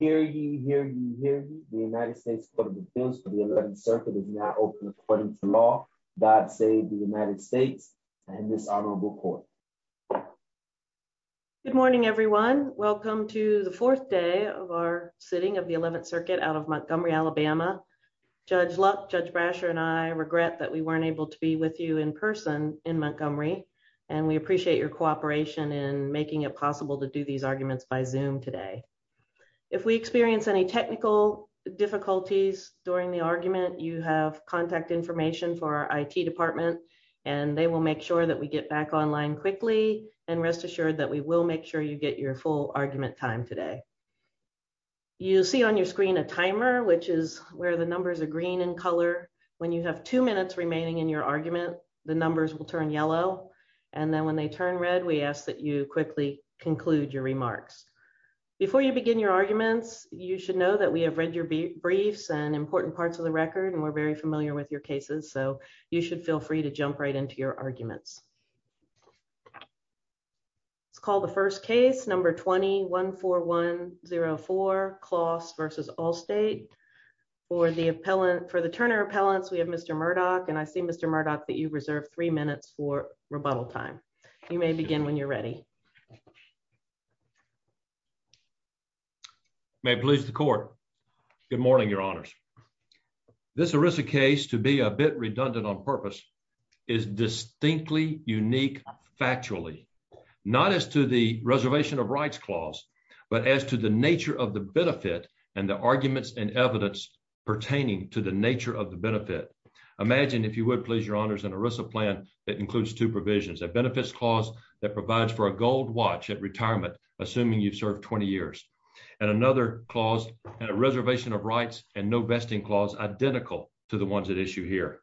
Hear ye, hear ye, hear ye. The United States Court of Appeals for the 11th Circuit is now open according to law. God save the United States and this honorable court. Good morning, everyone. Welcome to the fourth day of our sitting of the 11th Circuit out of Montgomery, Alabama. Judge Luck, Judge Brasher, and I regret that we weren't able to be with you in person in Montgomery, and we appreciate your cooperation in making it possible to do these arguments by Zoom today. If we experience any technical difficulties during the argument, you have contact information for our IT department, and they will make sure that we get back online quickly, and rest assured that we will make sure you get your full argument time today. You see on your screen a timer, which is where the numbers are green in color. When you have two minutes remaining in your argument, the numbers will turn yellow, and then when they turn red, we ask that you quickly conclude your remarks. Before you begin your arguments, you should know that we have read your briefs and important parts of the record, and we're very familiar with your cases, so you should feel free to jump right into your arguments. It's called the first case, number 20-14104, Closs versus Allstate. For the Turner appellants, we have Mr. Murdoch, and I see, Mr. Murdoch, that you reserve three minutes for rebuttal time. You may begin when you're ready. You may please the court. Good morning, your honors. This ERISA case, to be a bit redundant on purpose, is distinctly unique factually, not as to the reservation of rights clause, but as to the nature of the benefit and the arguments and evidence pertaining to the nature of the benefit. Imagine, if you would please, your honors, an ERISA plan that includes two provisions, a benefits clause that provides for a gold watch at retirement, assuming you've served 20 years, and another clause, and a reservation of rights and no vesting clause identical to the ones at issue here.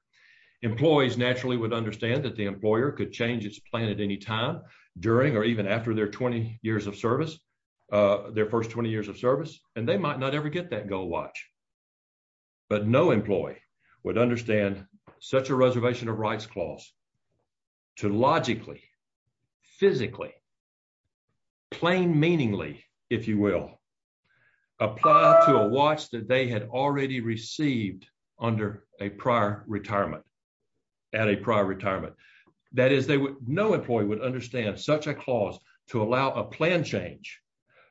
Employees naturally would understand that the employer could change its plan at any time, during or even after their 20 years of service, their first 20 years of service, and they might not ever get that gold watch, but no employee would understand such a reservation of rights clause to logically, physically, plain meaningly, if you will, apply to a watch that they had already received under a prior retirement, at a prior retirement. That is, no employee would understand such a clause to allow a plan change,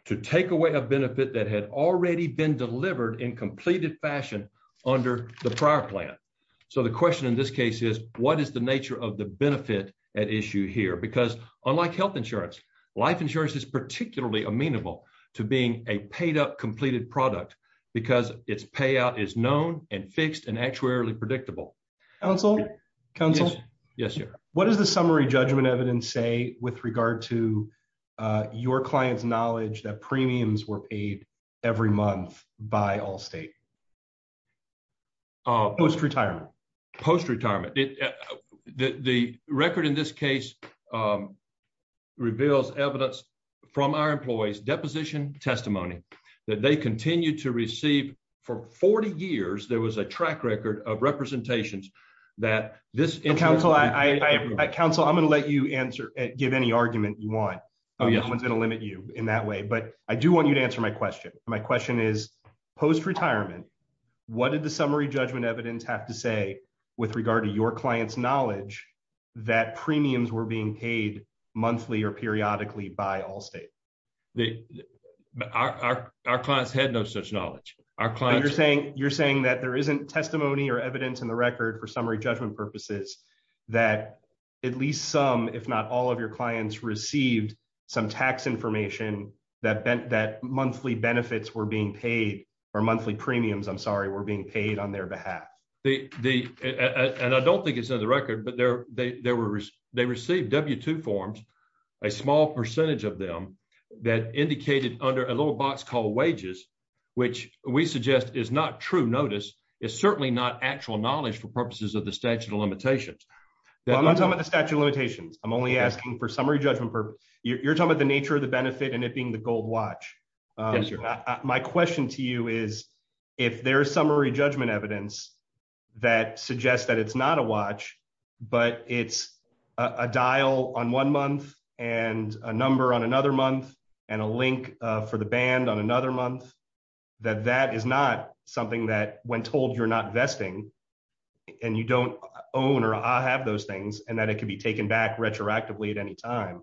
to take away a benefit that had already been delivered in completed fashion under the prior plan. So the question in this case is, what is the nature of the benefit at issue here? Because unlike health insurance, life insurance is particularly amenable to being a paid up, completed product, because its payout is known, and fixed, and actuarially predictable. Council? Council? Yes, sir. What does the summary judgment evidence say with regard to your client's knowledge that premiums were paid every month by Allstate? Post-retirement. Post-retirement. The record in this case reveals evidence from our employees' deposition testimony that they continue to receive. For 40 years, there was a track record of representations that this interest- Council, I'm gonna let you answer, give any argument you want. Oh, yes. No one's gonna limit you in that way, but I do want you to answer my question. My question is, post-retirement, what did the summary judgment evidence have to say with regard to your client's knowledge that premiums were being paid monthly or periodically by Allstate? Our clients had no such knowledge. Our clients- You're saying that there isn't testimony or evidence in the record for summary judgment purposes that at least some, if not all of your clients, received some tax information that monthly benefits were being paid or monthly premiums, I'm sorry, were being paid on their behalf? And I don't think it's in the record, but they received W-2 forms, a small percentage of them, that indicated under a little box called wages, which we suggest is not true notice. It's certainly not actual knowledge for purposes of the statute of limitations. Well, I'm not talking about the statute of limitations. I'm only asking for summary judgment purposes. You're talking about the nature of the benefit and it being the gold watch. Yes, sir. My question to you is, if there is summary judgment evidence that suggests that it's not a watch, but it's a dial on one month and a number on another month and a link for the band on another month, that that is not something that, when told you're not vesting and you don't own or have those things and that it could be taken back retroactively at any time,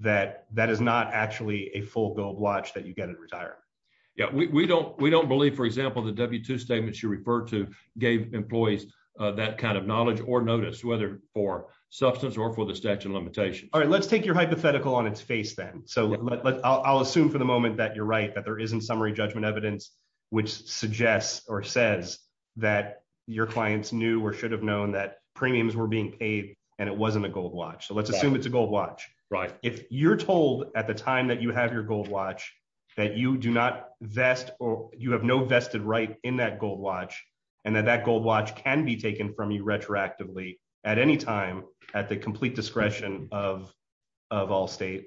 that that is not actually a full gold watch that you get in retirement? Yeah, we don't believe, for example, the W-2 statements you referred to gave employees that kind of knowledge or notice, whether for substance or for the statute of limitations. All right, let's take your hypothetical on its face then. So I'll assume for the moment that you're right, that there isn't summary judgment evidence, which suggests or says that your clients knew or should have known that premiums were being paid and it wasn't a gold watch. So let's assume it's a gold watch. Right. If you're told at the time that you have your gold watch, that you do not vest or you have no vested right in that gold watch and that that gold watch can be taken from you retroactively at any time at the complete discretion of Allstate,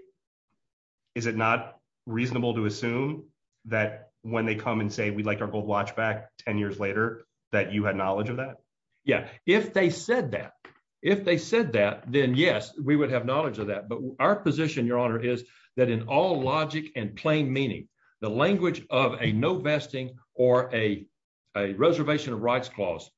is it not reasonable to assume that when they come and say, we'd like our gold watch back 10 years later, that you had knowledge of that? Yeah, if they said that, if they said that, then yes, we would have knowledge of that. But our position, Your Honor, is that in all logic and plain meaning, the language of a no vesting or a reservation of rights clause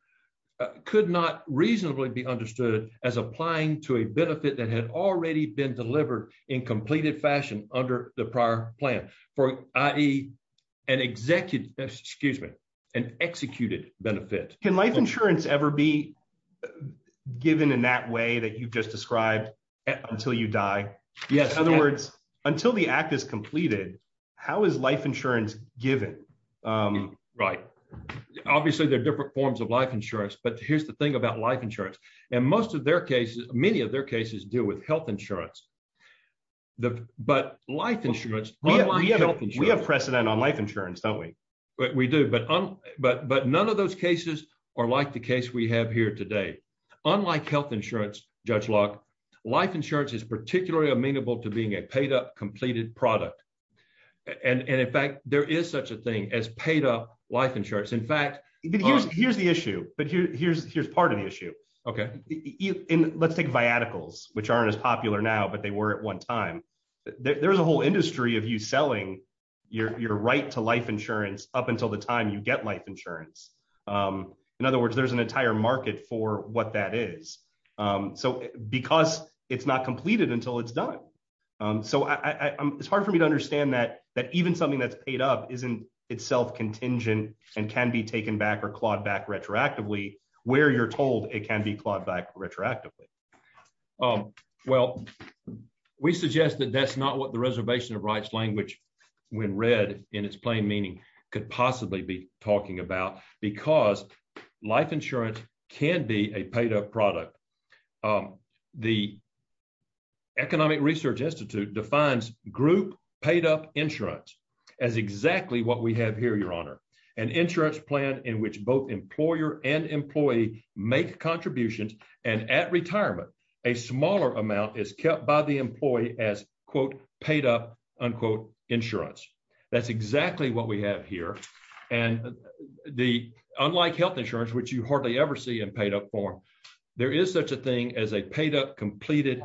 could not reasonably be understood as applying to a benefit that had already been delivered in completed fashion under the prior plan, for i.e. an executed benefit. Can life insurance ever be given in that way that you've just described until you die? Yes. In other words, until the act is completed, how is life insurance given? Right. Obviously, there are different forms of life insurance, but here's the thing about life insurance. And most of their cases, many of their cases deal with health insurance. But life insurance, unlike health insurance- We have precedent on life insurance, don't we? We do, but none of those cases are like the case we have here today. Unlike health insurance, Judge Locke, life insurance is particularly amenable to being a paid-up, completed product. And in fact, there is such a thing as paid-up life insurance. In fact- Here's the issue, but here's part of the issue. Okay. Let's take viaticals, which aren't as popular now, but they were at one time. There's a whole industry of you selling your right to life insurance up until the time you get life insurance. In other words, there's an entire market for what that is. So because it's not completed until it's done. So it's hard for me to understand that even something that's paid up isn't itself contingent and can be taken back or clawed back retroactively, where you're told it can be clawed back retroactively. Well, we suggest that that's not what the reservation of rights language, when read in its plain meaning, could possibly be talking about because life insurance can be a paid-up product. The Economic Research Institute defines group paid-up insurance as exactly what we have here, Your Honor. An insurance plan in which both employer and employee make contributions. And at retirement, a smaller amount is kept by the employee as quote, paid-up unquote insurance. That's exactly what we have here. And unlike health insurance, which you hardly ever see in paid-up form, there is such a thing as a paid-up completed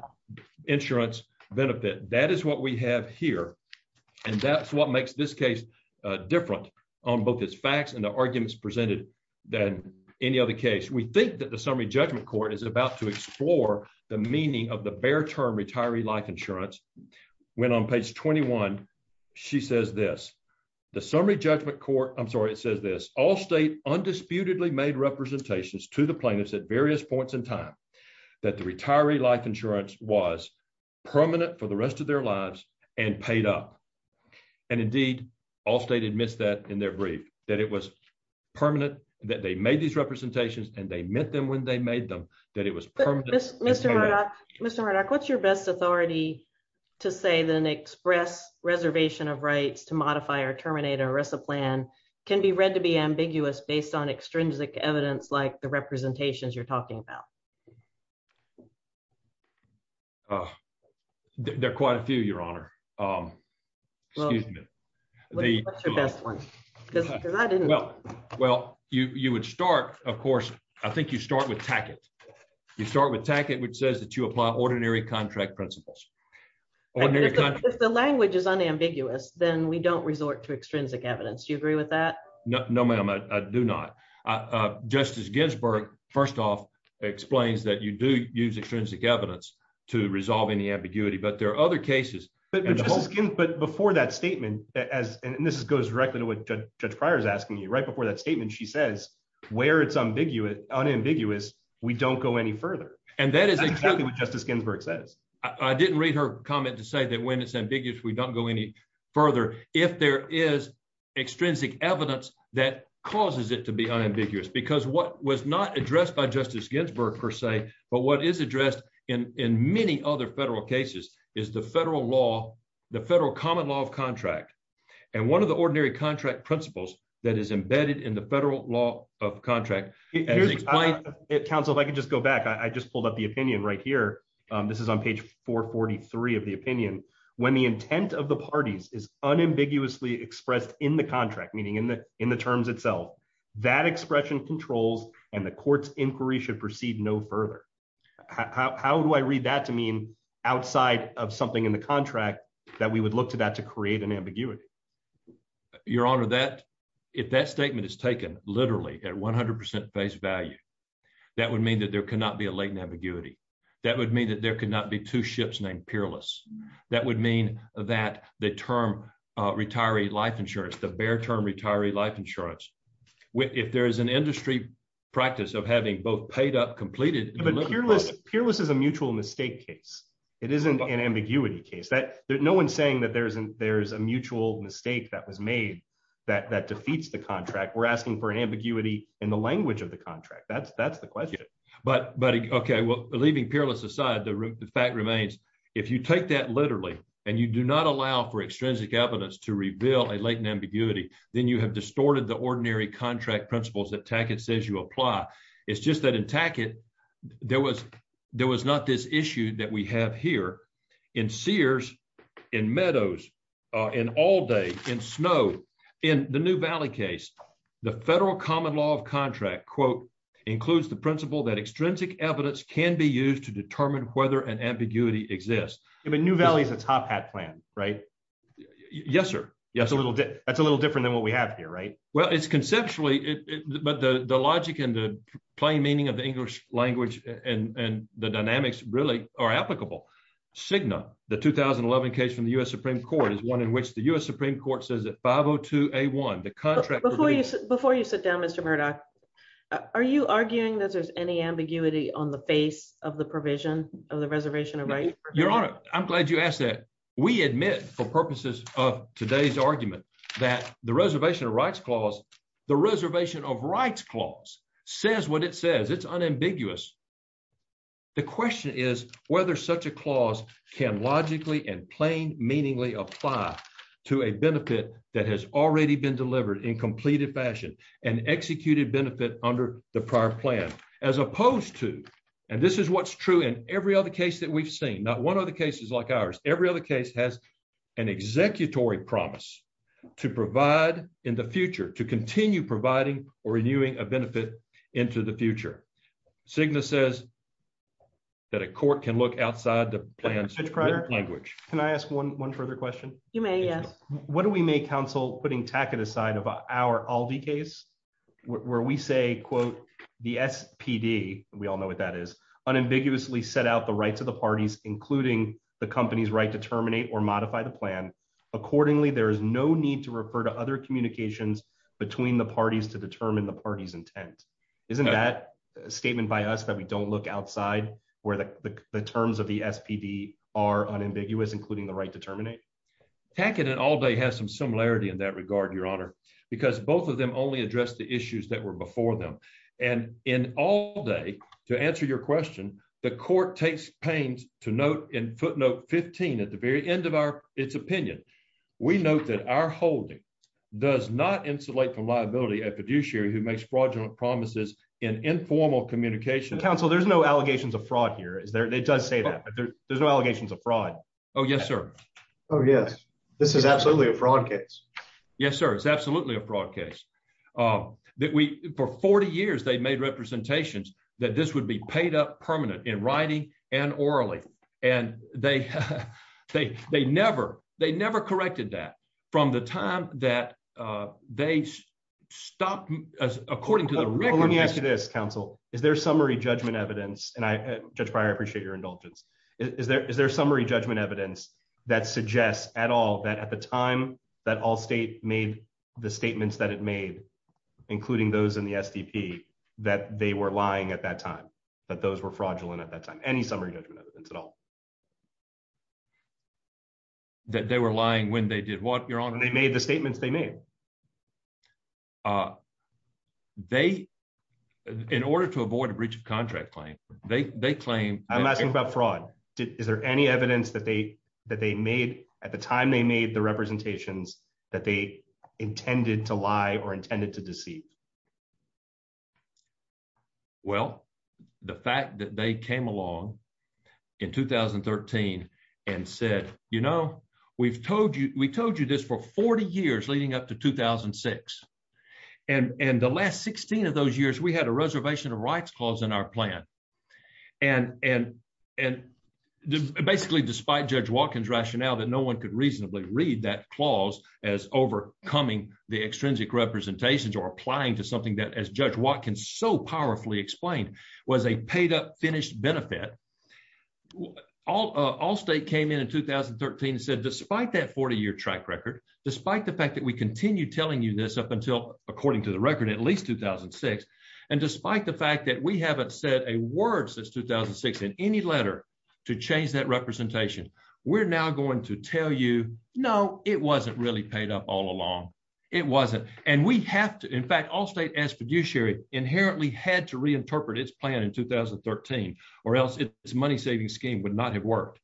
insurance benefit. That is what we have here. And that's what makes this case different on both its facts and the arguments presented than any other case. We think that the Summary Judgment Court is about to explore the meaning of the bare term retiree life insurance. When on page 21, she says this, the Summary Judgment Court, I'm sorry, it says this, all state undisputedly made representations to the plaintiffs at various points in time that the retiree life insurance was permanent for the rest of their lives and paid up. And indeed, all state admits that in their brief, that it was permanent, that they made these representations and they meant them when they made them, that it was permanent. Mr. Murdock, what's your best authority to say then express reservation of rights to modify or terminate a RESA plan can be read to be ambiguous based on extrinsic evidence like the representations you're talking about? There are quite a few, Your Honor. Excuse me. What's your best one? Because I didn't- Well, you would start, of course, I think you start with Tackett. You start with Tackett, which says that you apply ordinary contract principles. Ordinary contract- If the language is unambiguous, then we don't resort to extrinsic evidence. Do you agree with that? No, ma'am. I do not. Justice Ginsburg, first off, explains that you do use extrinsic evidence to resolve any ambiguity, but there are other cases- But before that statement, and this goes directly to what Judge Pryor is asking you, right before that statement, she says where it's unambiguous, we don't go any further. And that is exactly what Justice Ginsburg says. I didn't read her comment to say that when it's ambiguous, we don't go any further. If there is extrinsic evidence, that causes it to be unambiguous because what was not addressed by Justice Ginsburg per se, but what is addressed in many other federal cases is the federal law, the federal common law of contract. And one of the ordinary contract principles that is embedded in the federal law of contract- Here's- Counsel, if I could just go back. I just pulled up the opinion right here. This is on page 443 of the opinion. When the intent of the parties is unambiguously expressed in the contract, meaning in the terms itself, that expression controls and the court's inquiry should proceed no further. How do I read that to mean outside of something in the contract that we would look to that to create an ambiguity? Your Honor, if that statement is taken literally at 100% base value, that would mean that there could not be a latent ambiguity. That would mean that there could not be two ships named Peerless. That would mean that the term retiree life insurance, the bare term retiree life insurance, if there is an industry practice of having both paid up, completed- But Peerless is a mutual mistake case. It isn't an ambiguity case. No one's saying that there's a mutual mistake that was made that defeats the contract. We're asking for an ambiguity in the language of the contract. That's the question. But, okay, well, leaving Peerless aside, the fact remains, if you take that literally and you do not allow for extrinsic evidence to reveal a latent ambiguity, then you have distorted the ordinary contract principles that Tackett says you apply. It's just that in Tackett, there was not this issue that we have here. In Sears, in Meadows, in Allday, in Snow, in the New Valley case, the federal common law of contract, quote, includes the principle that extrinsic evidence can be used to determine whether an ambiguity exists. But New Valley's a top hat plan, right? Yes, sir. Yes, that's a little different than what we have here, right? Well, it's conceptually, but the logic and the plain meaning of the English language and the dynamics really are applicable. Cigna, the 2011 case from the U.S. Supreme Court is one in which the U.S. Supreme Court says that 502A1, the contract- Before you sit down, Mr. Murdoch, are you arguing that there's any ambiguity on the face of the provision of the Reservation of Rights? Your Honor, I'm glad you asked that. We admit for purposes of today's argument that the Reservation of Rights Clause, the Reservation of Rights Clause says what it says. It's unambiguous. The question is whether such a clause can logically and plain meaningly apply to a benefit that has already been delivered in completed fashion and executed benefit under the prior plan, as opposed to, and this is what's true in every other case that we've seen, not one of the cases like ours, every other case has an executory promise to provide in the future, to continue providing or renewing a benefit into the future. Cigna says that a court can look outside the plan's written language. Can I ask one further question? You may, yes. What do we make counsel putting tacit aside of our Aldi case, where we say, quote, the SPD, we all know what that is, unambiguously set out the rights of the parties, including the company's right to terminate or modify the plan. Accordingly, there is no need to refer to other communications between the parties to determine the party's intent. Isn't that a statement by us that we don't look outside where the terms of the SPD are unambiguous, including the right to terminate? Tacit and Aldi has some similarity in that regard, Your Honor, because both of them only addressed the issues that were before them. And in Aldi, to answer your question, the court takes pains to note in footnote 15 at the very end of its opinion, we note that our holding does not insulate from liability a fiduciary who makes fraudulent promises in informal communication. Counsel, there's no allegations of fraud here. It does say that, but there's no allegations of fraud. Oh, yes, sir. Oh, yes. This is absolutely a fraud case. Yes, sir, it's absolutely a fraud case. For 40 years, they've made representations that this would be paid up permanent in writing and orally. And they never corrected that from the time that they stopped, according to the record- Well, let me ask you this, counsel. Is there summary judgment evidence, and Judge Pryor, I appreciate your indulgence. Is there summary judgment evidence that suggests at all that Allstate made the statements that it made, including those in the SDP, that they were lying at that time, that those were fraudulent at that time? Any summary judgment evidence at all? That they were lying when they did what, Your Honor? When they made the statements they made. They, in order to avoid a breach of contract claim, they claim- I'm asking about fraud. Is there any evidence that they made at the time they made the representations that they intended to lie or intended to deceive? Well, the fact that they came along in 2013 and said, you know, we've told you this for 40 years leading up to 2006. And the last 16 of those years, we had a reservation of rights clause in our plan. And basically, despite Judge Watkins' rationale that no one could reasonably read that clause as overcoming the extrinsic representations or applying to something that, as Judge Watkins so powerfully explained, was a paid-up finished benefit, Allstate came in in 2013 and said, despite that 40-year track record, despite the fact that we continue telling you this up until, according to the record, at least 2006, and despite the fact that we haven't said a word since 2006 in any letter to change that representation, we're now going to tell you, no, it wasn't really paid up all along. It wasn't. And we have to, in fact, Allstate as fiduciary inherently had to reinterpret its plan in 2013 or else its money-saving scheme would not have worked.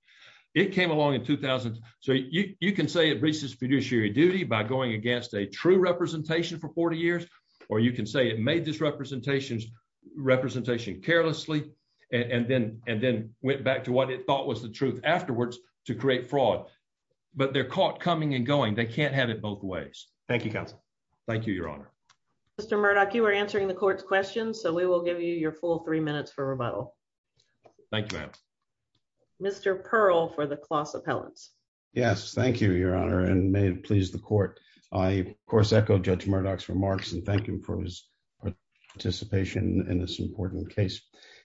It came along in 2000. So you can say it reached its fiduciary duty by going against a true representation for 40 years, or you can say it made this representation carelessly and then went back to what it thought was the truth afterwards to create fraud. But they're caught coming and going. They can't have it both ways. Thank you, counsel. Thank you, Your Honor. Mr. Murdoch, you were answering the court's questions, so we will give you your full three minutes for rebuttal. Thank you, ma'am. Mr. Pearl for the Closs Appellants. Yes, thank you, Your Honor, and may it please the court. I, of course, echo Judge Murdoch's remarks and thank him for his participation in this important case.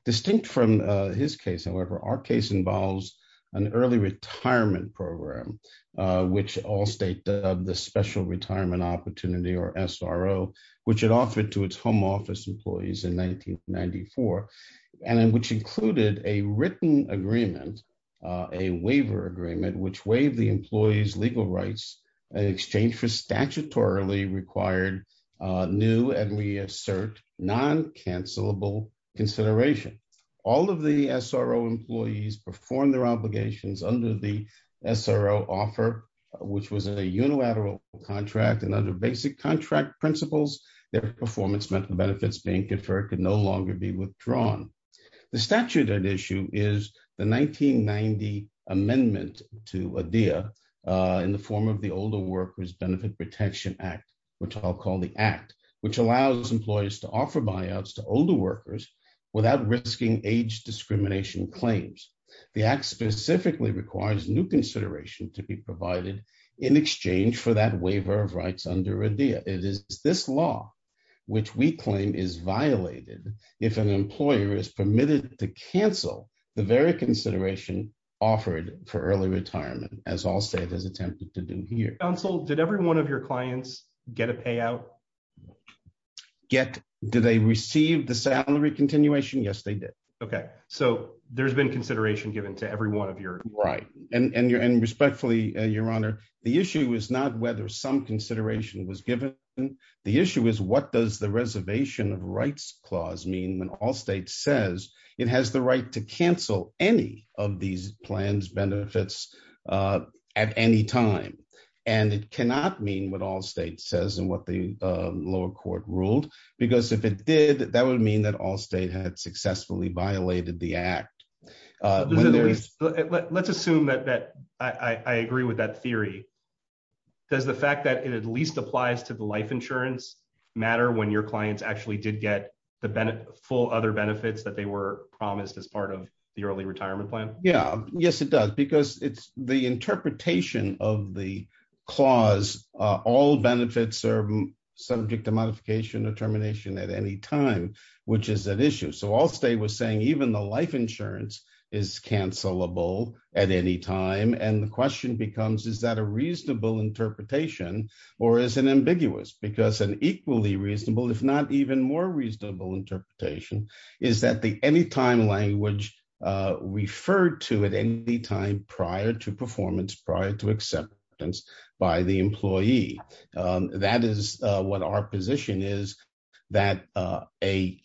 Distinct from his case, however, our case involves an early retirement program, which all state the Special Retirement Opportunity, or SRO, which it offered to its home office employees in 1994, and which included a written agreement, a waiver agreement, which waived the employees' legal rights in exchange for statutorily required new and, we assert, non-cancelable consideration. All of the SRO employees performed their obligations under the SRO offer, which was a unilateral contract, and under basic contract principles, their performance benefits being conferred could no longer be withdrawn. The statute at issue is the 1990 amendment to ADEA in the form of the Older Workers Benefit Protection Act, which I'll call the Act, which allows employees to offer buyouts to older workers without risking age discrimination claims. The Act specifically requires new consideration to be provided in exchange for that waiver of rights under ADEA. It is this law, which we claim is violated, if an employer is permitted to cancel the very consideration offered for early retirement, as Allstate has attempted to do here. Counsel, did every one of your clients get a payout? Did they receive the salary continuation? Yes, they did. Okay, so there's been consideration given to every one of your- Right, and respectfully, Your Honor, the issue is not whether some consideration was given. The issue is what does the Reservation of Rights Clause mean when Allstate says it has the right to cancel any of these plans benefits at any time? And it cannot mean what Allstate says and what the lower court ruled, because if it did, that would mean that Allstate had successfully violated the Act. Let's assume that I agree with that theory. Does the fact that it at least applies to the life insurance matter when your clients actually did get the full other benefits that they were promised as part of the early retirement plan? Yeah, yes, it does, because it's the interpretation of the clause, all benefits are subject to modification or termination at any time, which is an issue. So Allstate was saying even the life insurance is cancelable at any time. And the question becomes, is that a reasonable interpretation or is it ambiguous? Because an equally reasonable, if not even more reasonable interpretation is that the anytime language referred to at any time prior to performance, prior to acceptance by the employee. That is what our position is, that an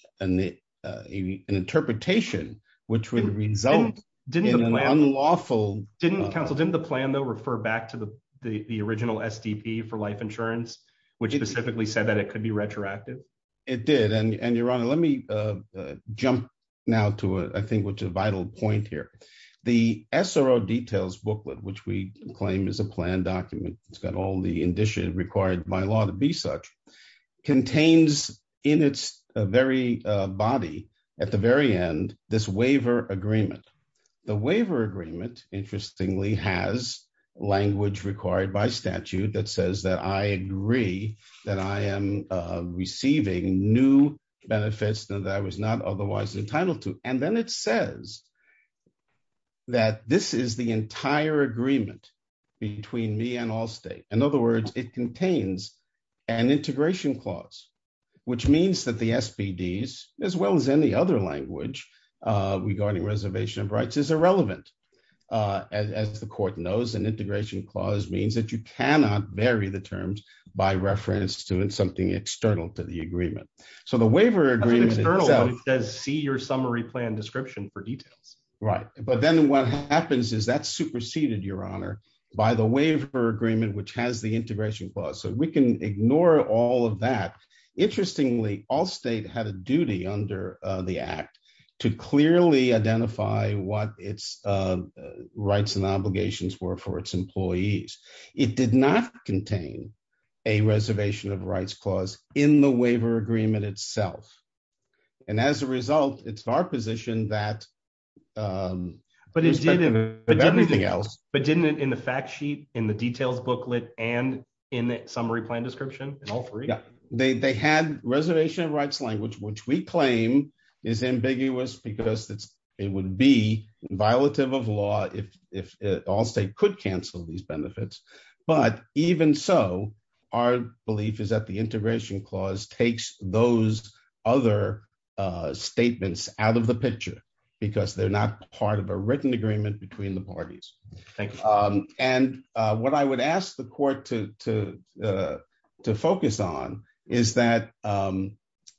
interpretation which would result in an unlawful- Counsel, didn't the plan though refer back to the original SDP for life insurance, which specifically said that it could be retroactive? It did, and Your Honor, let me jump now to I think which a vital point here. The SRO details booklet, which we claim is a plan document. It's got all the indicia required by law to be such, contains in its very body at the very end, this waiver agreement. The waiver agreement interestingly has language required by statute that says that I agree that I am receiving new benefits that I was not otherwise entitled to. And then it says that this is the entire agreement between me and Allstate. In other words, it contains an integration clause, which means that the SBDs, as well as any other language regarding reservation of rights is irrelevant. As the court knows, an integration clause means that you cannot vary the terms by reference to something external to the agreement. So the waiver agreement- I see your summary plan description for details. Right, but then what happens is that's superseded, Your Honor, by the waiver agreement, which has the integration clause. So we can ignore all of that. Interestingly, Allstate had a duty under the act to clearly identify what its rights and obligations were for its employees. It did not contain a reservation of rights clause in the waiver agreement itself. And as a result, it's our position that- But it didn't- With everything else. But didn't it in the fact sheet, in the details booklet, and in the summary plan description, in all three? Yeah, they had reservation of rights language, which we claim is ambiguous because it would be violative of law if Allstate could cancel these benefits. But even so, our belief is that the integration clause takes those other statements out of the picture because they're not part of a written agreement between the parties. Thank you. And what I would ask the court to focus on is that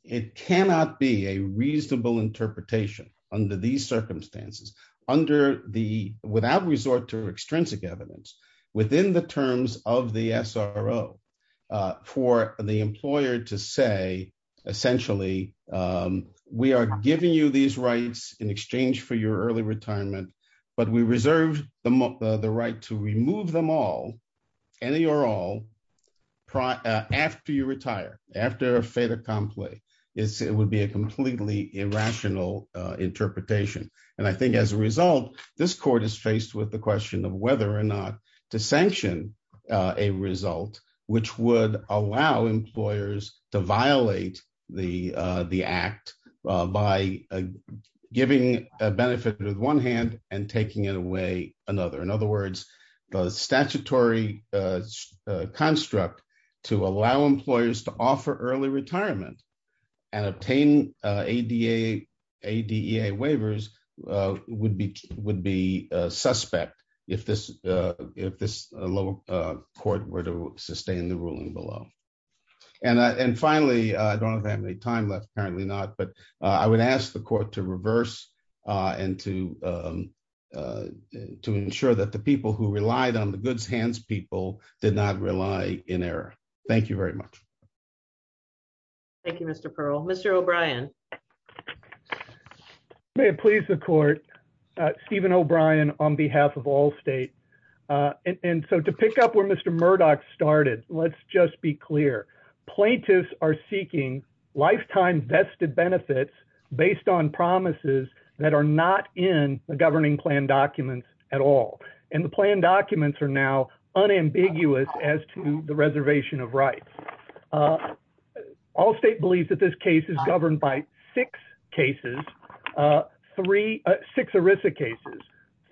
it cannot be a reasonable interpretation under these circumstances, without resort to extrinsic evidence, within the terms of the SRO, for the employer to say, essentially, we are giving you these rights in exchange for your early retirement, but we reserve the right to remove them all, any or all, after you retire, after a fait accompli. It would be a completely irrational interpretation. And I think as a result, this court is faced with the question of whether or not to sanction a result, which would allow employers to violate the act by giving a benefit with one hand and taking it away another. In other words, the statutory construct to allow employers to offer early retirement and obtain ADEA waivers would be suspect if this court were to sustain the ruling below. And finally, I don't know if I have any time left, apparently not, but I would ask the court to reverse and to ensure that the people who relied on the goods hands people did not rely in error. Thank you very much. Thank you, Mr. Pearl. Mr. O'Brien. May it please the court, Stephen O'Brien on behalf of Allstate. And so to pick up where Mr. Murdoch started, let's just be clear. Plaintiffs are seeking lifetime vested benefits based on promises that are not in the governing plan documents at all. And the plan documents are now unambiguous as to the reservation of rights. Allstate believes that this case is governed by six cases, three, six ERISA cases,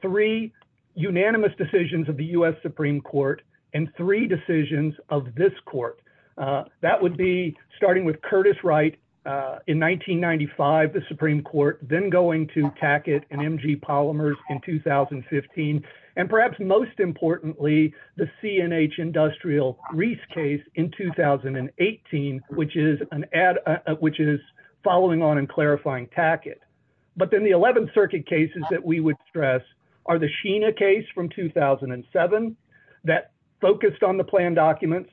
three unanimous decisions of the U.S. Supreme Court and three decisions of this court. That would be starting with Curtis Wright in 1995, the Supreme Court, then going to Tackett and MG Polymers in 2015. And perhaps most importantly, the C&H Industrial Rees case in 2018, which is following on and clarifying Tackett. But then the 11th Circuit cases that we would stress are the Sheena case from 2007 that focused on the plan documents,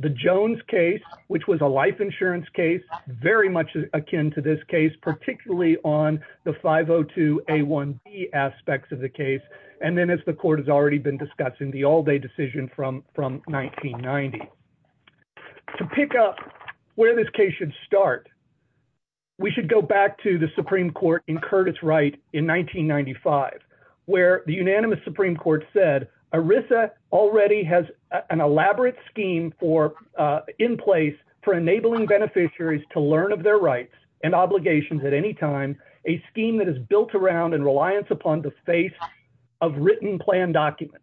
the Jones case, which was a life insurance case, very much akin to this case, particularly on the 502A1B aspects of the case. And then as the court has already been discussing the all day decision from 1990. To pick up where this case should start, we should go back to the Supreme Court in Curtis Wright in 1995, where the unanimous Supreme Court said, ERISA already has an elaborate scheme in place for enabling beneficiaries to learn of their rights and obligations at any time, a scheme that is built around and reliance upon the face of written plan documents.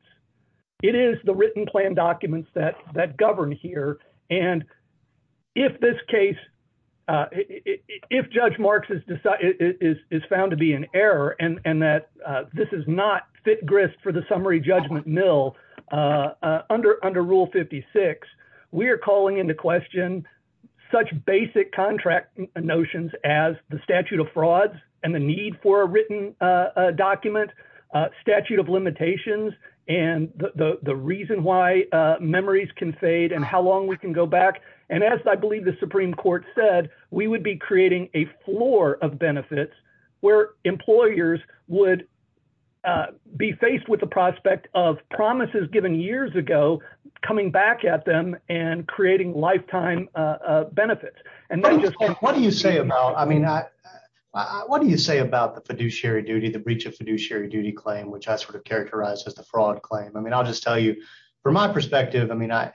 It is the written plan documents that govern here. And if this case, if Judge Marks is found to be in error and that this is not fit grist for the summary judgment mill under rule 56, we are calling into question such basic contract notions as the statute of frauds and the need for a written document, statute of limitations, and the reason why memories can fade and how long we can go back. And as I believe the Supreme Court said, we would be creating a floor of benefits where employers would be faced with the prospect of promises given years ago, coming back at them and creating lifetime benefits. And then- What do you say about, I mean, what do you say about the fiduciary duty, the breach of fiduciary duty claim, which I sort of characterize as the fraud claim? I mean, I'll just tell you, from my perspective, I mean, I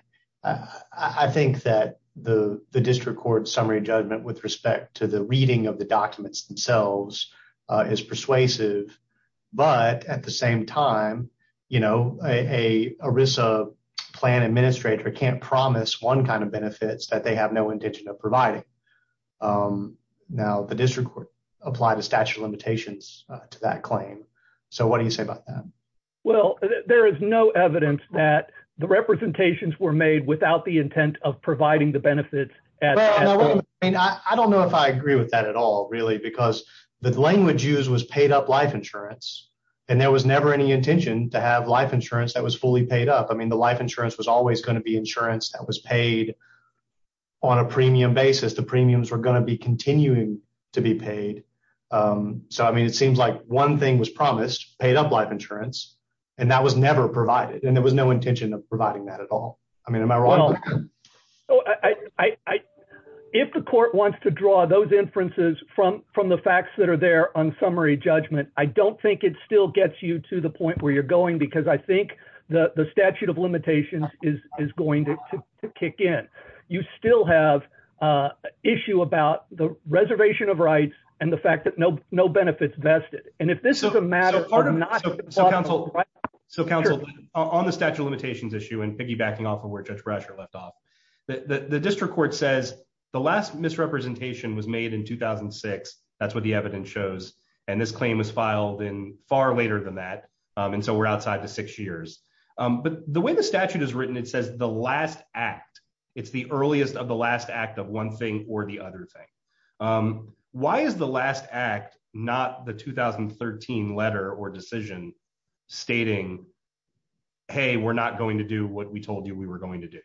think that the district court summary judgment with respect to the reading of the documents themselves is persuasive, but at the same time, a ERISA plan administrator can't promise one kind of benefits that they have no intention of providing. Now, the district court apply the statute of limitations to that claim. So what do you say about that? Well, there is no evidence that the representations were made without the intent of providing the benefits as well. I mean, I don't know if I agree with that at all, really, because the language used was paid up life insurance, and there was never any intention to have life insurance that was fully paid up. I mean, the life insurance was always gonna be insurance that was paid on a premium basis. The premiums were gonna be continuing to be paid. So, I mean, it seems like one thing was promised, paid up life insurance, and that was never provided, and there was no intention of providing that at all. I mean, am I wrong? Well, if the court wants to draw those inferences from the facts that are there on summary judgment, I don't think it still gets you to the point where you're going, because I think the statute of limitations is going to kick in. You still have issue about the reservation of rights and the fact that no benefit's vested. And if this is a matter of not- So, counsel, on the statute of limitations issue, and piggybacking off of where Judge Brasher left off, the district court says the last misrepresentation was made in 2006. That's what the evidence shows. And this claim was filed in far later than that, and so we're outside the six years. But the way the statute is written, it says the last act. It's the earliest of the last act of one thing or the other thing. Why is the last act not the 2013 letter or decision stating, hey, we're not going to do what we told you we were going to do?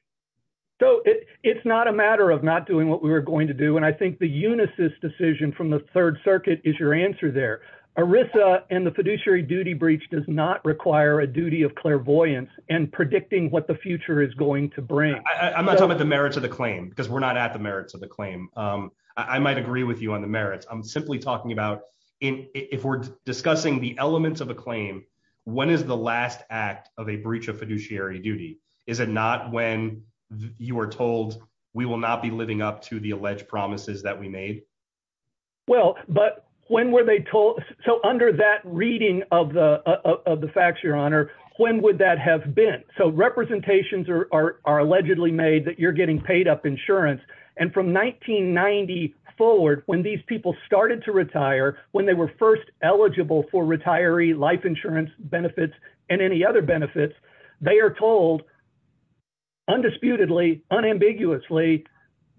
So it's not a matter of not doing what we were going to do. And I think the Unisys decision from the Third Circuit is your answer there. ERISA and the fiduciary duty breach does not require a duty of clairvoyance and predicting what the future is going to bring. I'm not talking about the merits of the claim, because we're not at the merits of the claim. I might agree with you on the merits. I'm simply talking about if we're discussing the elements of a claim, when is the last act of a breach of fiduciary duty? Is it not when you were told we will not be living up to the alleged promises that we made? Well, but when were they told? So under that reading of the facts, Your Honor, when would that have been? So representations are allegedly made that you're getting paid up insurance. And from 1990 forward, when these people started to retire, when they were first eligible for retiree life insurance benefits and any other benefits, they are told undisputedly, unambiguously,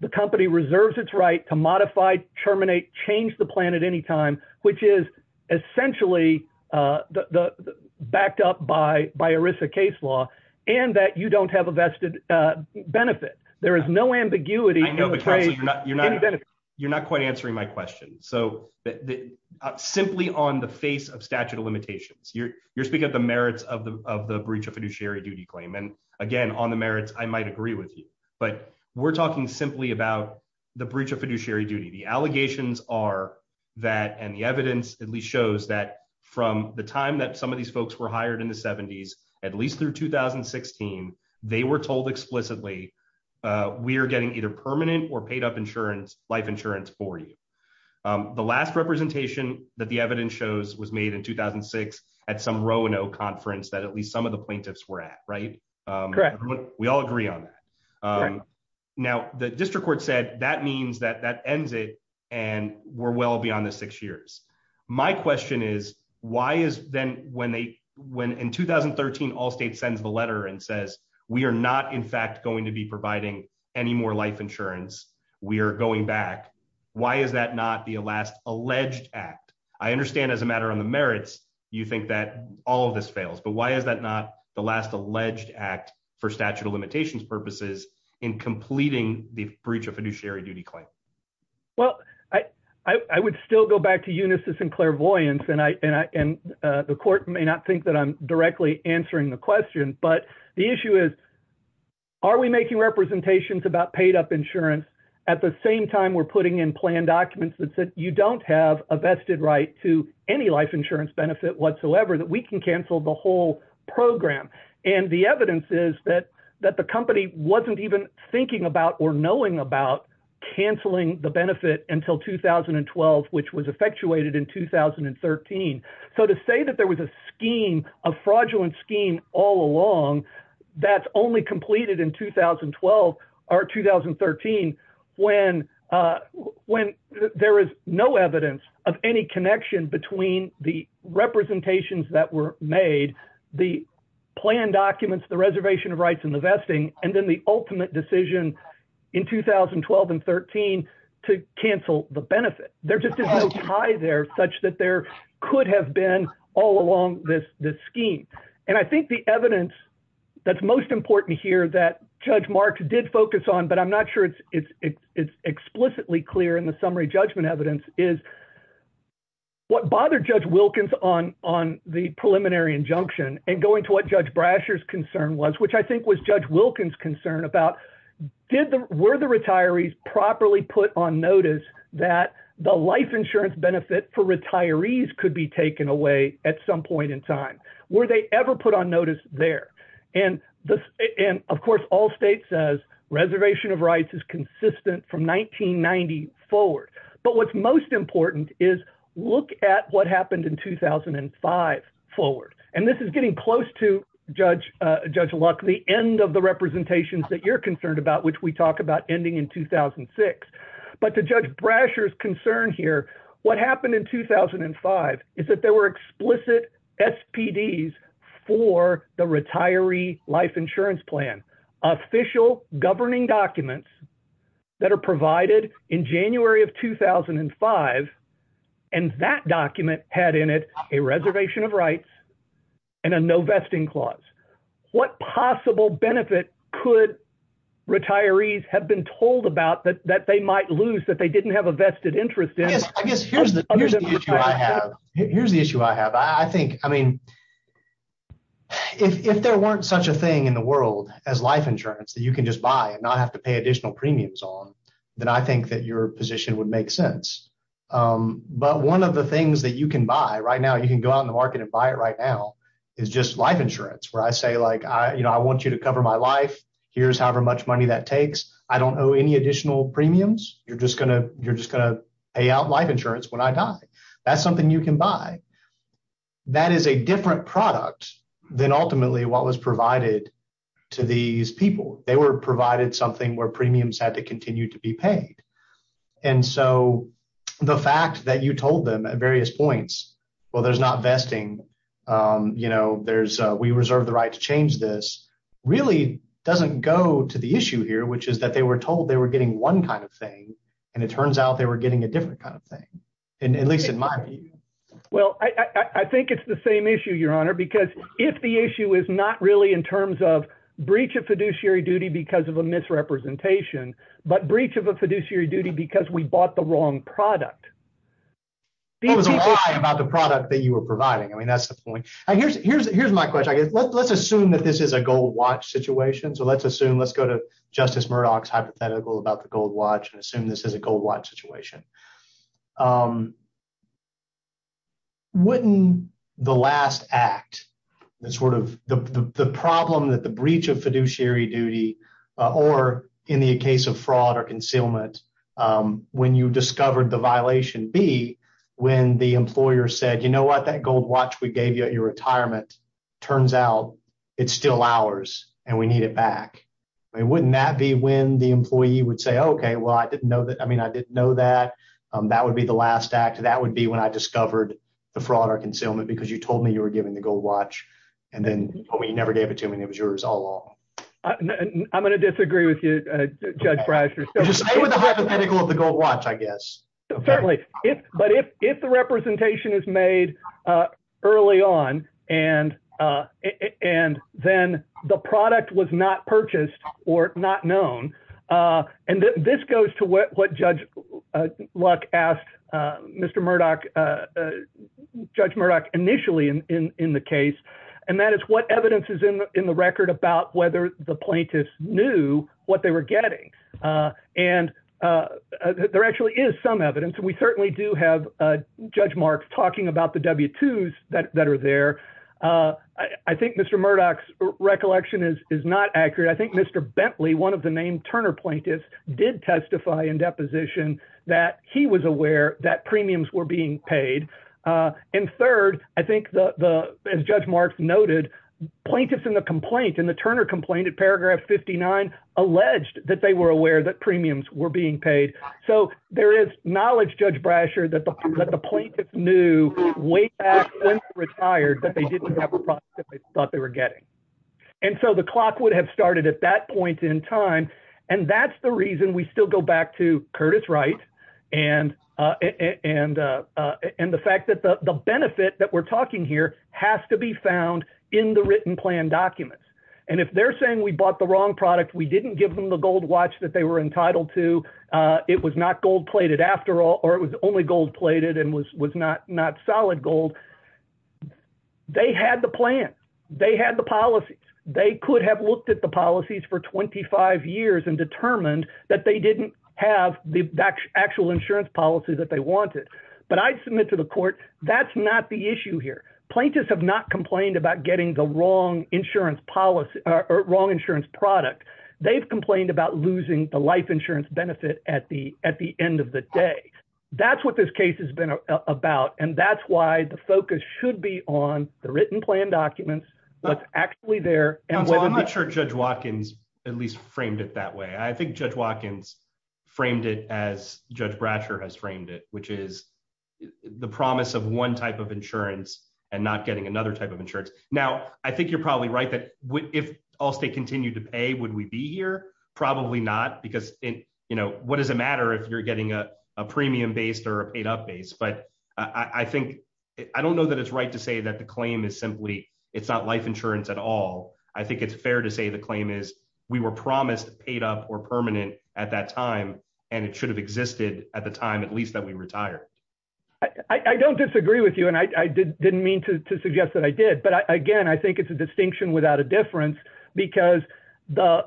the company reserves its right to modify, terminate, change the plan at any time, which is essentially backed up by ERISA case law, and that you don't have a vested benefit. There is no ambiguity. I know, but counsel, you're not quite answering my question. So simply on the face of statute of limitations, you're speaking of the merits of the breach of fiduciary duty claim. And again, on the merits, I might agree with you, but we're talking simply about the breach of fiduciary duty. The allegations are that, and the evidence at least shows that from the time that some of these folks were hired in the 70s, at least through 2016, they were told explicitly, we are getting either permanent or paid up insurance, life insurance for you. The last representation that the evidence shows was made in 2006 at some Roanoke conference that at least some of the plaintiffs were at, right? Correct. We all agree on that. Now, the district court said that means that that ends it and we're well beyond the six years. My question is, why is then when in 2013, Allstate sends the letter and says, we are not in fact going to be providing any more life insurance. We are going back. Why is that not the last alleged act? I understand as a matter on the merits, you think that all of this fails, but why is that not the last alleged act for statute of limitations purposes in completing the breach of fiduciary duty claim? Well, I would still go back to Unisys and Clairvoyance and the court may not think that I'm directly answering the question, but the issue is, are we making representations about paid up insurance at the same time we're putting in plan documents that said you don't have a vested right to any life insurance benefit whatsoever that we can cancel the whole program. And the evidence is that the company wasn't even thinking about or knowing about canceling the benefit until 2012, which was effectuated in 2013. So to say that there was a scheme, a fraudulent scheme all along, that's only completed in 2012 or 2013, when there is no evidence of any connection between the representations that were made, the plan documents, the reservation of rights and the vesting, and then the ultimate decision in 2012 and 13 to cancel the benefit. There just is no tie there such that there could have been all along this scheme. And I think the evidence that's most important here that Judge Mark did focus on, but I'm not sure it's explicitly clear in the summary judgment evidence is what bothered Judge Wilkins on the preliminary injunction and going to what Judge Brasher's concern was, which I think was Judge Wilkins concern about, were the retirees properly put on notice that the life insurance benefit for retirees could be taken away at some point in time. Were they ever put on notice there? And of course, all states says reservation of rights is consistent from 1990 forward. But what's most important is look at what happened in 2005 forward. And this is getting close to Judge Luck, the end of the representations that you're concerned about, which we talk about ending in 2006. But to Judge Brasher's concern here, what happened in 2005 is that there were explicit SPDs for the retiree life insurance plan, official governing documents that are provided in January of 2005. And that document had in it a reservation of rights and a no vesting clause. What possible benefit could retirees have been told about that they might lose that they didn't have a vested interest in? I guess here's the issue I have. Here's the issue I have. I think, I mean, if there weren't such a thing in the world as life insurance that you can just buy and not have to pay additional premiums on, then I think that your position would make sense. But one of the things that you can buy right now, you can go out in the market and buy it right now, is just life insurance, where I say like, I want you to cover my life. Here's however much money that takes. I don't owe any additional premiums. You're just gonna pay out life insurance when I die. That's something you can buy. That is a different product than ultimately what was provided to these people. They were provided something where premiums had to continue to be paid. And so the fact that you told them at various points, well, there's not vesting, we reserve the right to change this, really doesn't go to the issue here, which is that they were told they were getting one kind of thing, and it turns out they were getting a different kind of thing. And at least in my view. Well, I think it's the same issue, your honor, because if the issue is not really in terms of breach of fiduciary duty because of a misrepresentation, but breach of a fiduciary duty because we bought the wrong product. What was the lie about the product that you were providing? I mean, that's the point. Here's my question. Let's assume that this is a gold watch situation. So let's assume, let's go to Justice Murdoch's hypothetical about the gold watch and assume this is a gold watch situation. Wouldn't the last act, the sort of the problem that the breach of fiduciary duty or in the case of fraud or concealment, when you discovered the violation be when the employer said, you know what? That gold watch we gave you at your retirement turns out it's still ours and we need it back. I mean, wouldn't that be when the employee would say, okay, well, I didn't know that. I mean, I didn't know that. That would be the last act. That would be when I discovered the fraud or concealment because you told me you were giving the gold watch and then you never gave it to me and it was yours all along. I'm going to disagree with you, Judge Breister. Just stay with the hypothetical of the gold watch, I guess. Certainly. But if the representation is made early on and then the product was not purchased or not known, and this goes to what Judge Luck asked Mr. Murdoch, Judge Murdoch initially in the case. And that is what evidence is in the record about whether the plaintiffs knew what they were getting. And there actually is some evidence. We certainly do have Judge Marks talking about the W-2s that are there. I think Mr. Murdoch's recollection is not accurate. I think Mr. Bentley, one of the named Turner plaintiffs did testify in deposition that he was aware that premiums were being paid. And third, I think as Judge Marks noted, plaintiffs in the complaint, in the Turner complaint at paragraph 59, alleged that they were aware that premiums were being paid. So there is knowledge, Judge Breister, that the plaintiff knew way back since retired that they didn't have a product that they thought they were getting. And so the clock would have started at that point in time. And that's the reason we still go back to Curtis Wright and the fact that the benefit that we're talking here has to be found in the written plan documents. And if they're saying we bought the wrong product, we didn't give them the gold watch that they were entitled to, it was not gold plated after all, or it was only gold plated and was not solid gold. They had the plan. They had the policies. They could have looked at the policies for 25 years and determined that they didn't have the actual insurance policy that they wanted. But I submit to the court, that's not the issue here. Plaintiffs have not complained about getting the wrong insurance product. They've complained about losing the life insurance benefit at the end of the day. That's what this case has been about. And that's why the focus should be on the written plan documents, what's actually there. And- Well, I'm not sure Judge Watkins at least framed it that way. I think Judge Watkins framed it as Judge Bratcher has framed it, which is the promise of one type of insurance and not getting another type of insurance. Now, I think you're probably right that if Allstate continued to pay, would we be here? Probably not because what does it matter if you're getting a premium based or a paid up base? But I think, I don't know that it's right to say that the claim is simply, it's not life insurance at all. I think it's fair to say the claim is we were promised paid up or permanent at that time and it should have existed at the time at least that we retired. I don't disagree with you. And I didn't mean to suggest that I did. But again, I think it's a distinction without a difference because the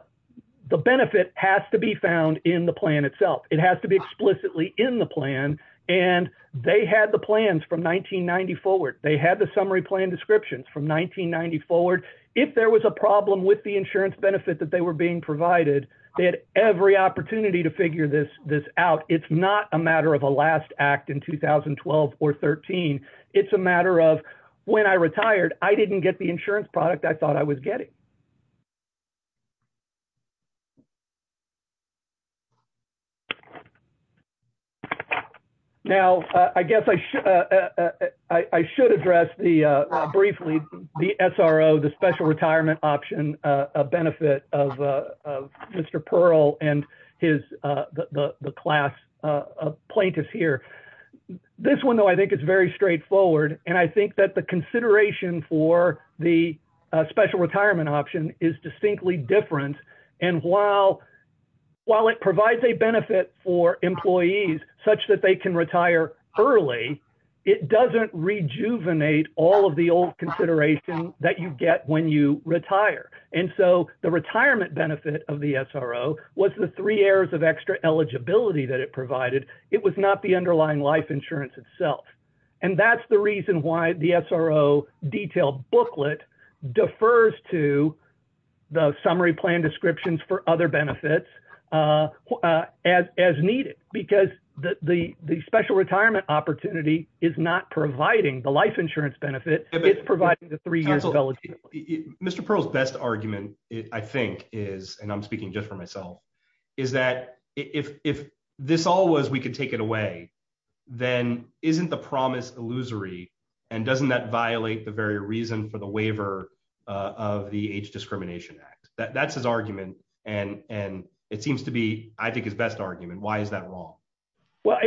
benefit has to be found in the plan itself. It has to be explicitly in the plan. And they had the plans from 1990 forward. They had the summary plan descriptions from 1990 forward. If there was a problem with the insurance benefit that they were being provided, they had every opportunity to figure this out. It's not a matter of a last act in 2012 or 13. It's a matter of when I retired, I didn't get the insurance product I thought I was getting. Now, I guess I should address briefly the SRO, the special retirement option, a benefit of Mr. Perl and the class plaintiffs here. This one though, I think it's very straightforward. And I think that the consideration for the special retirement option is distinctly different. And while it provides a benefit for employees such that they can retire early, it doesn't rejuvenate all of the old consideration that you get when you retire. And so the retirement benefit of the SRO was the three errors of extra eligibility that it provided. It was not the underlying life insurance itself. And that's the reason why the SRO detailed booklet defers to the summary plan descriptions for other benefits as needed. Because the special retirement opportunity is not providing the life insurance benefit, it's providing the three years of eligibility. Mr. Perl's best argument, I think is, and I'm speaking just for myself, is that if this all was we could take it away, then isn't the promise illusory? And doesn't that violate the very reason for the waiver of the Age Discrimination Act? That's his argument. And it seems to be, I think, his best argument. Why is that wrong? Well,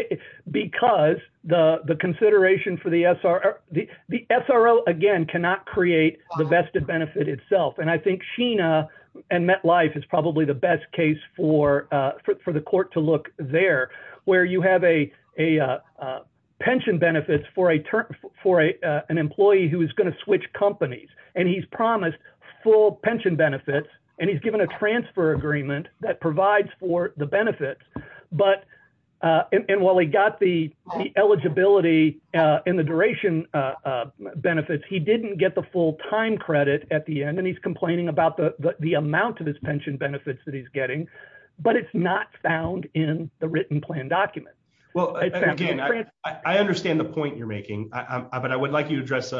because the consideration for the SRO, the SRO, again, cannot create the vested benefit itself. And I think Sheena and MetLife is probably the best case for the court to look there, where you have a pension benefits for an employee who is gonna switch companies. And he's promised full pension benefits, and he's given a transfer agreement that provides for the benefits. But, and while he got the eligibility and the duration benefits, he didn't get the full time credit at the end. And he's complaining about the amount of his pension benefits that he's getting. But it's not found in the written plan document. Well, again, I understand the point you're making, but I would like you to address,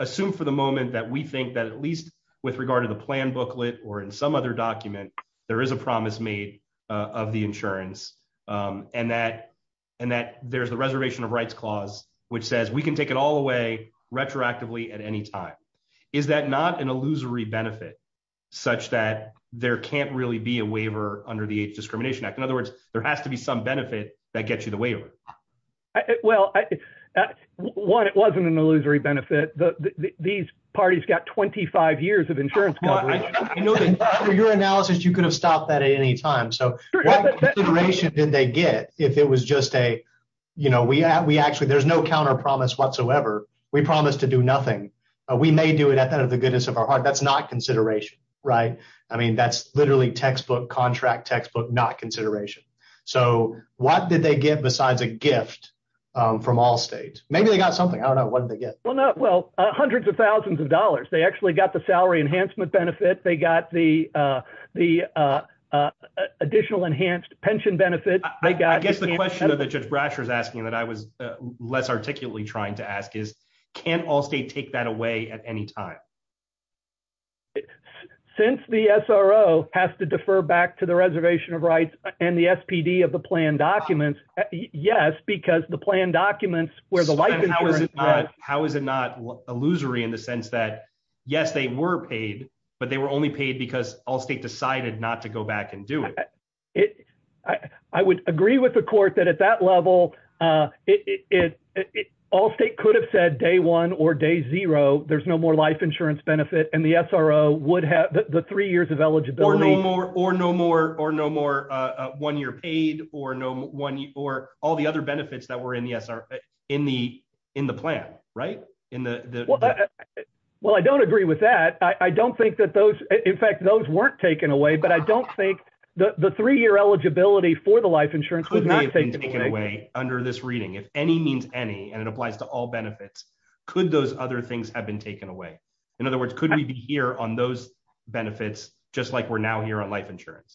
assume for the moment that we think that at least with regard to the plan booklet or in some other document, there is a promise made of the insurance, and that there's the reservation of rights clause, which says we can take it all away retroactively at any time. Is that not an illusory benefit, such that there can't really be a waiver under the discrimination act? In other words, there has to be some benefit that gets you the waiver. Well, one, it wasn't an illusory benefit. These parties got 25 years of insurance. I know that under your analysis, you could have stopped that at any time. So what consideration did they get? If it was just a, you know, we actually, there's no counter promise whatsoever. We promise to do nothing. We may do it at the goodness of our heart. That's not consideration, right? I mean, that's literally textbook, contract textbook, not consideration. So what did they get besides a gift from Allstate? Maybe they got something. I don't know, what did they get? Well, not, well, hundreds of thousands of dollars. They actually got the salary enhancement benefit. They got the additional enhanced pension benefit. They got- I guess the question that Judge Brasher is asking that I was less articulately trying to ask is, can't Allstate take that away at any time? Since the SRO has to defer back to the reservation of rights and the SPD of the plan documents, yes, because the plan documents where the life insurance- How is it not illusory in the sense that, yes, they were paid, but they were only paid because Allstate decided not to go back and do it. I would agree with the court that at that level, Allstate could have said day one or day zero, there's no more life insurance benefit. And the SRO would have the three years of eligibility- Or no more one-year paid or all the other benefits that were in the plan, right? Well, I don't agree with that. I don't think that those, in fact, those weren't taken away, but I don't think the three-year eligibility for the life insurance was not taken away. Could they have been taken away under this reading? If any means any, and it applies to all benefits, could those other things have been taken away? In other words, could we be here on those benefits just like we're now here on life insurance?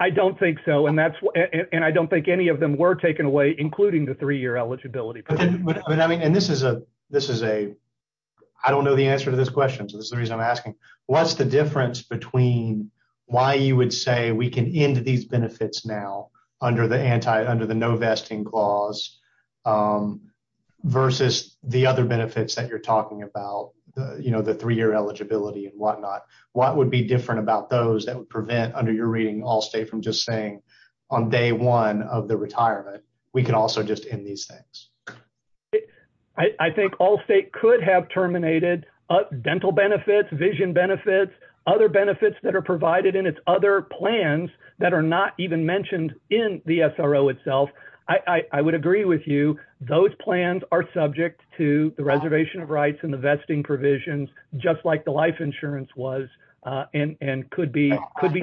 I don't think so. And I don't think any of them were taken away, including the three-year eligibility. I don't know the answer to this question, so this is the reason I'm asking. What's the difference between why you would say we can end these benefits now under the no vesting clause versus the other benefits that you're talking about? The three-year eligibility and whatnot. What would be different about those that would prevent, under your reading, Allstate from just saying on day one of the retirement, we can also just end these things? I think Allstate could have terminated dental benefits, vision benefits, other benefits that are provided in its other plans that are not even mentioned in the SRO itself. I would agree with you. Those plans are subject to the reservation of rights and the vesting provisions, just like the life insurance was, and could be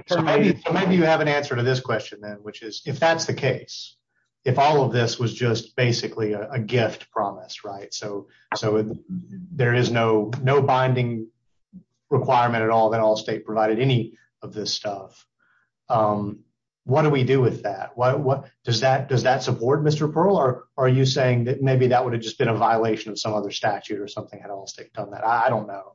terminated. So maybe you have an answer to this question then, which is, if that's the case, if all of this was just basically a gift promise, so there is no binding requirement at all that Allstate provided any of this stuff, what do we do with that? Does that support, Mr. Pearl, or are you saying that maybe that would have just been a violation of some other statute or something? I don't know.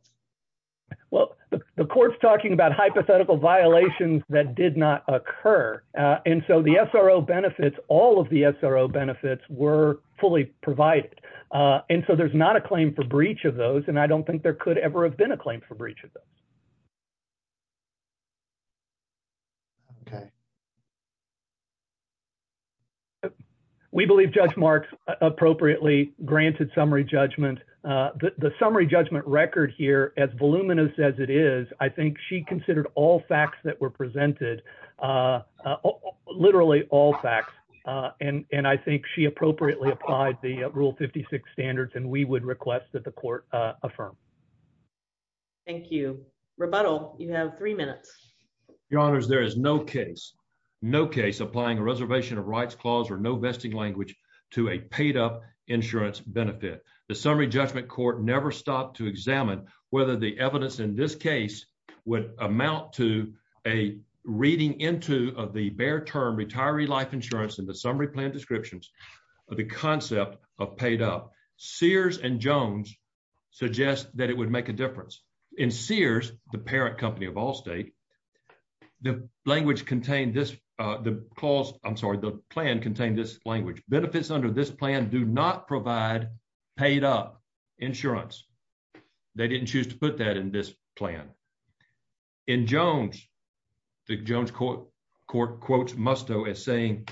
Well, the court's talking about hypothetical violations that did not occur. And so the SRO benefits, all of the SRO benefits were fully provided. And so there's not a claim for breach of those, and I don't think there could ever have been a claim for breach of those. We believe Judge Marks appropriately granted summary judgment. The summary judgment record here, as voluminous as it is, I think she considered all facts that were presented, literally all facts. And I think she appropriately applied the Rule 56 standards, and we would request that the court affirm. Thank you. Rebuttal, you have three minutes. Your honors, there is no case, no case applying a reservation of rights clause or no vesting language to a paid up insurance benefit. The summary judgment court never stopped to examine whether the evidence in this case would amount to a reading into the bare term, retiree life insurance and the summary plan descriptions of the concept of paid up. Sears and Jones suggest that it would make a difference. In Sears, the parent company of Allstate, the language contained this, the clause, I'm sorry, the plan contained this language. Benefits under this plan do not provide paid up insurance. They didn't choose to put that in this plan. In Jones, the Jones court quotes Musto as saying,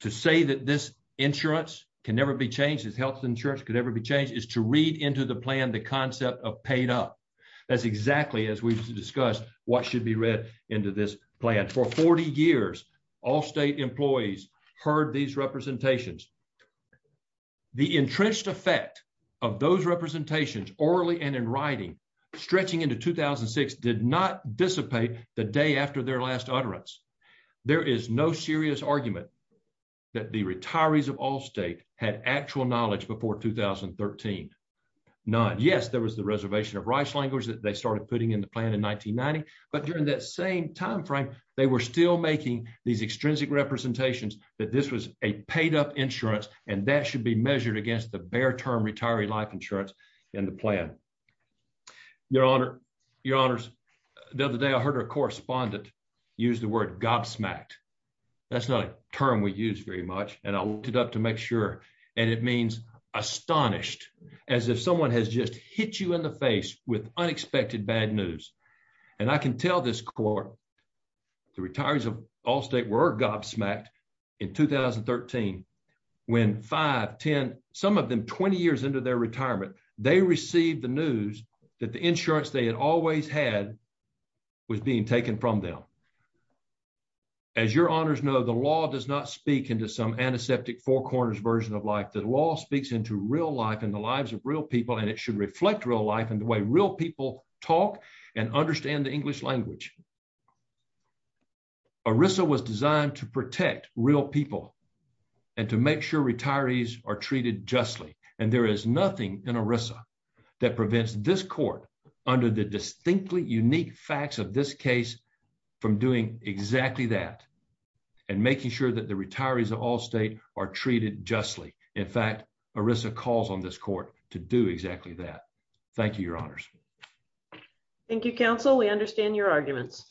to say that this insurance can never be changed, this health insurance could never be changed, is to read into the plan, the concept of paid up. That's exactly as we discussed what should be read into this plan. For 40 years, Allstate employees heard these representations. The entrenched effect of those representations orally and in writing stretching into 2006 did not dissipate the day after their last utterance. There is no serious argument that the retirees of Allstate had actual knowledge before 2013, none. Yes, there was the reservation of rights language that they started putting in the plan in 1990, but during that same timeframe, they were still making these extrinsic representations that this was a paid up insurance and that should be measured against the bare term retiree life insurance in the plan. Your honor, your honors, the other day I heard a correspondent use the word gobsmacked. That's not a term we use very much and I looked it up to make sure. And it means astonished, as if someone has just hit you in the face with unexpected bad news. And I can tell this court, the retirees of Allstate were gobsmacked in 2013, when five, 10, some of them 20 years into their retirement, they received the news that the insurance they had always had was being taken from them. As your honors know, the law does not speak into some antiseptic four corners version of life. The law speaks into real life and the lives of real people and it should reflect real life and the way real people talk and understand the English language. ERISA was designed to protect real people and to make sure retirees are treated justly. And there is nothing in ERISA that prevents this court under the distinctly unique facts of this case from doing exactly that and making sure that the retirees of Allstate are treated justly. In fact, ERISA calls on this court to do exactly that. Thank you, your honors. Thank you, counsel. We understand your arguments.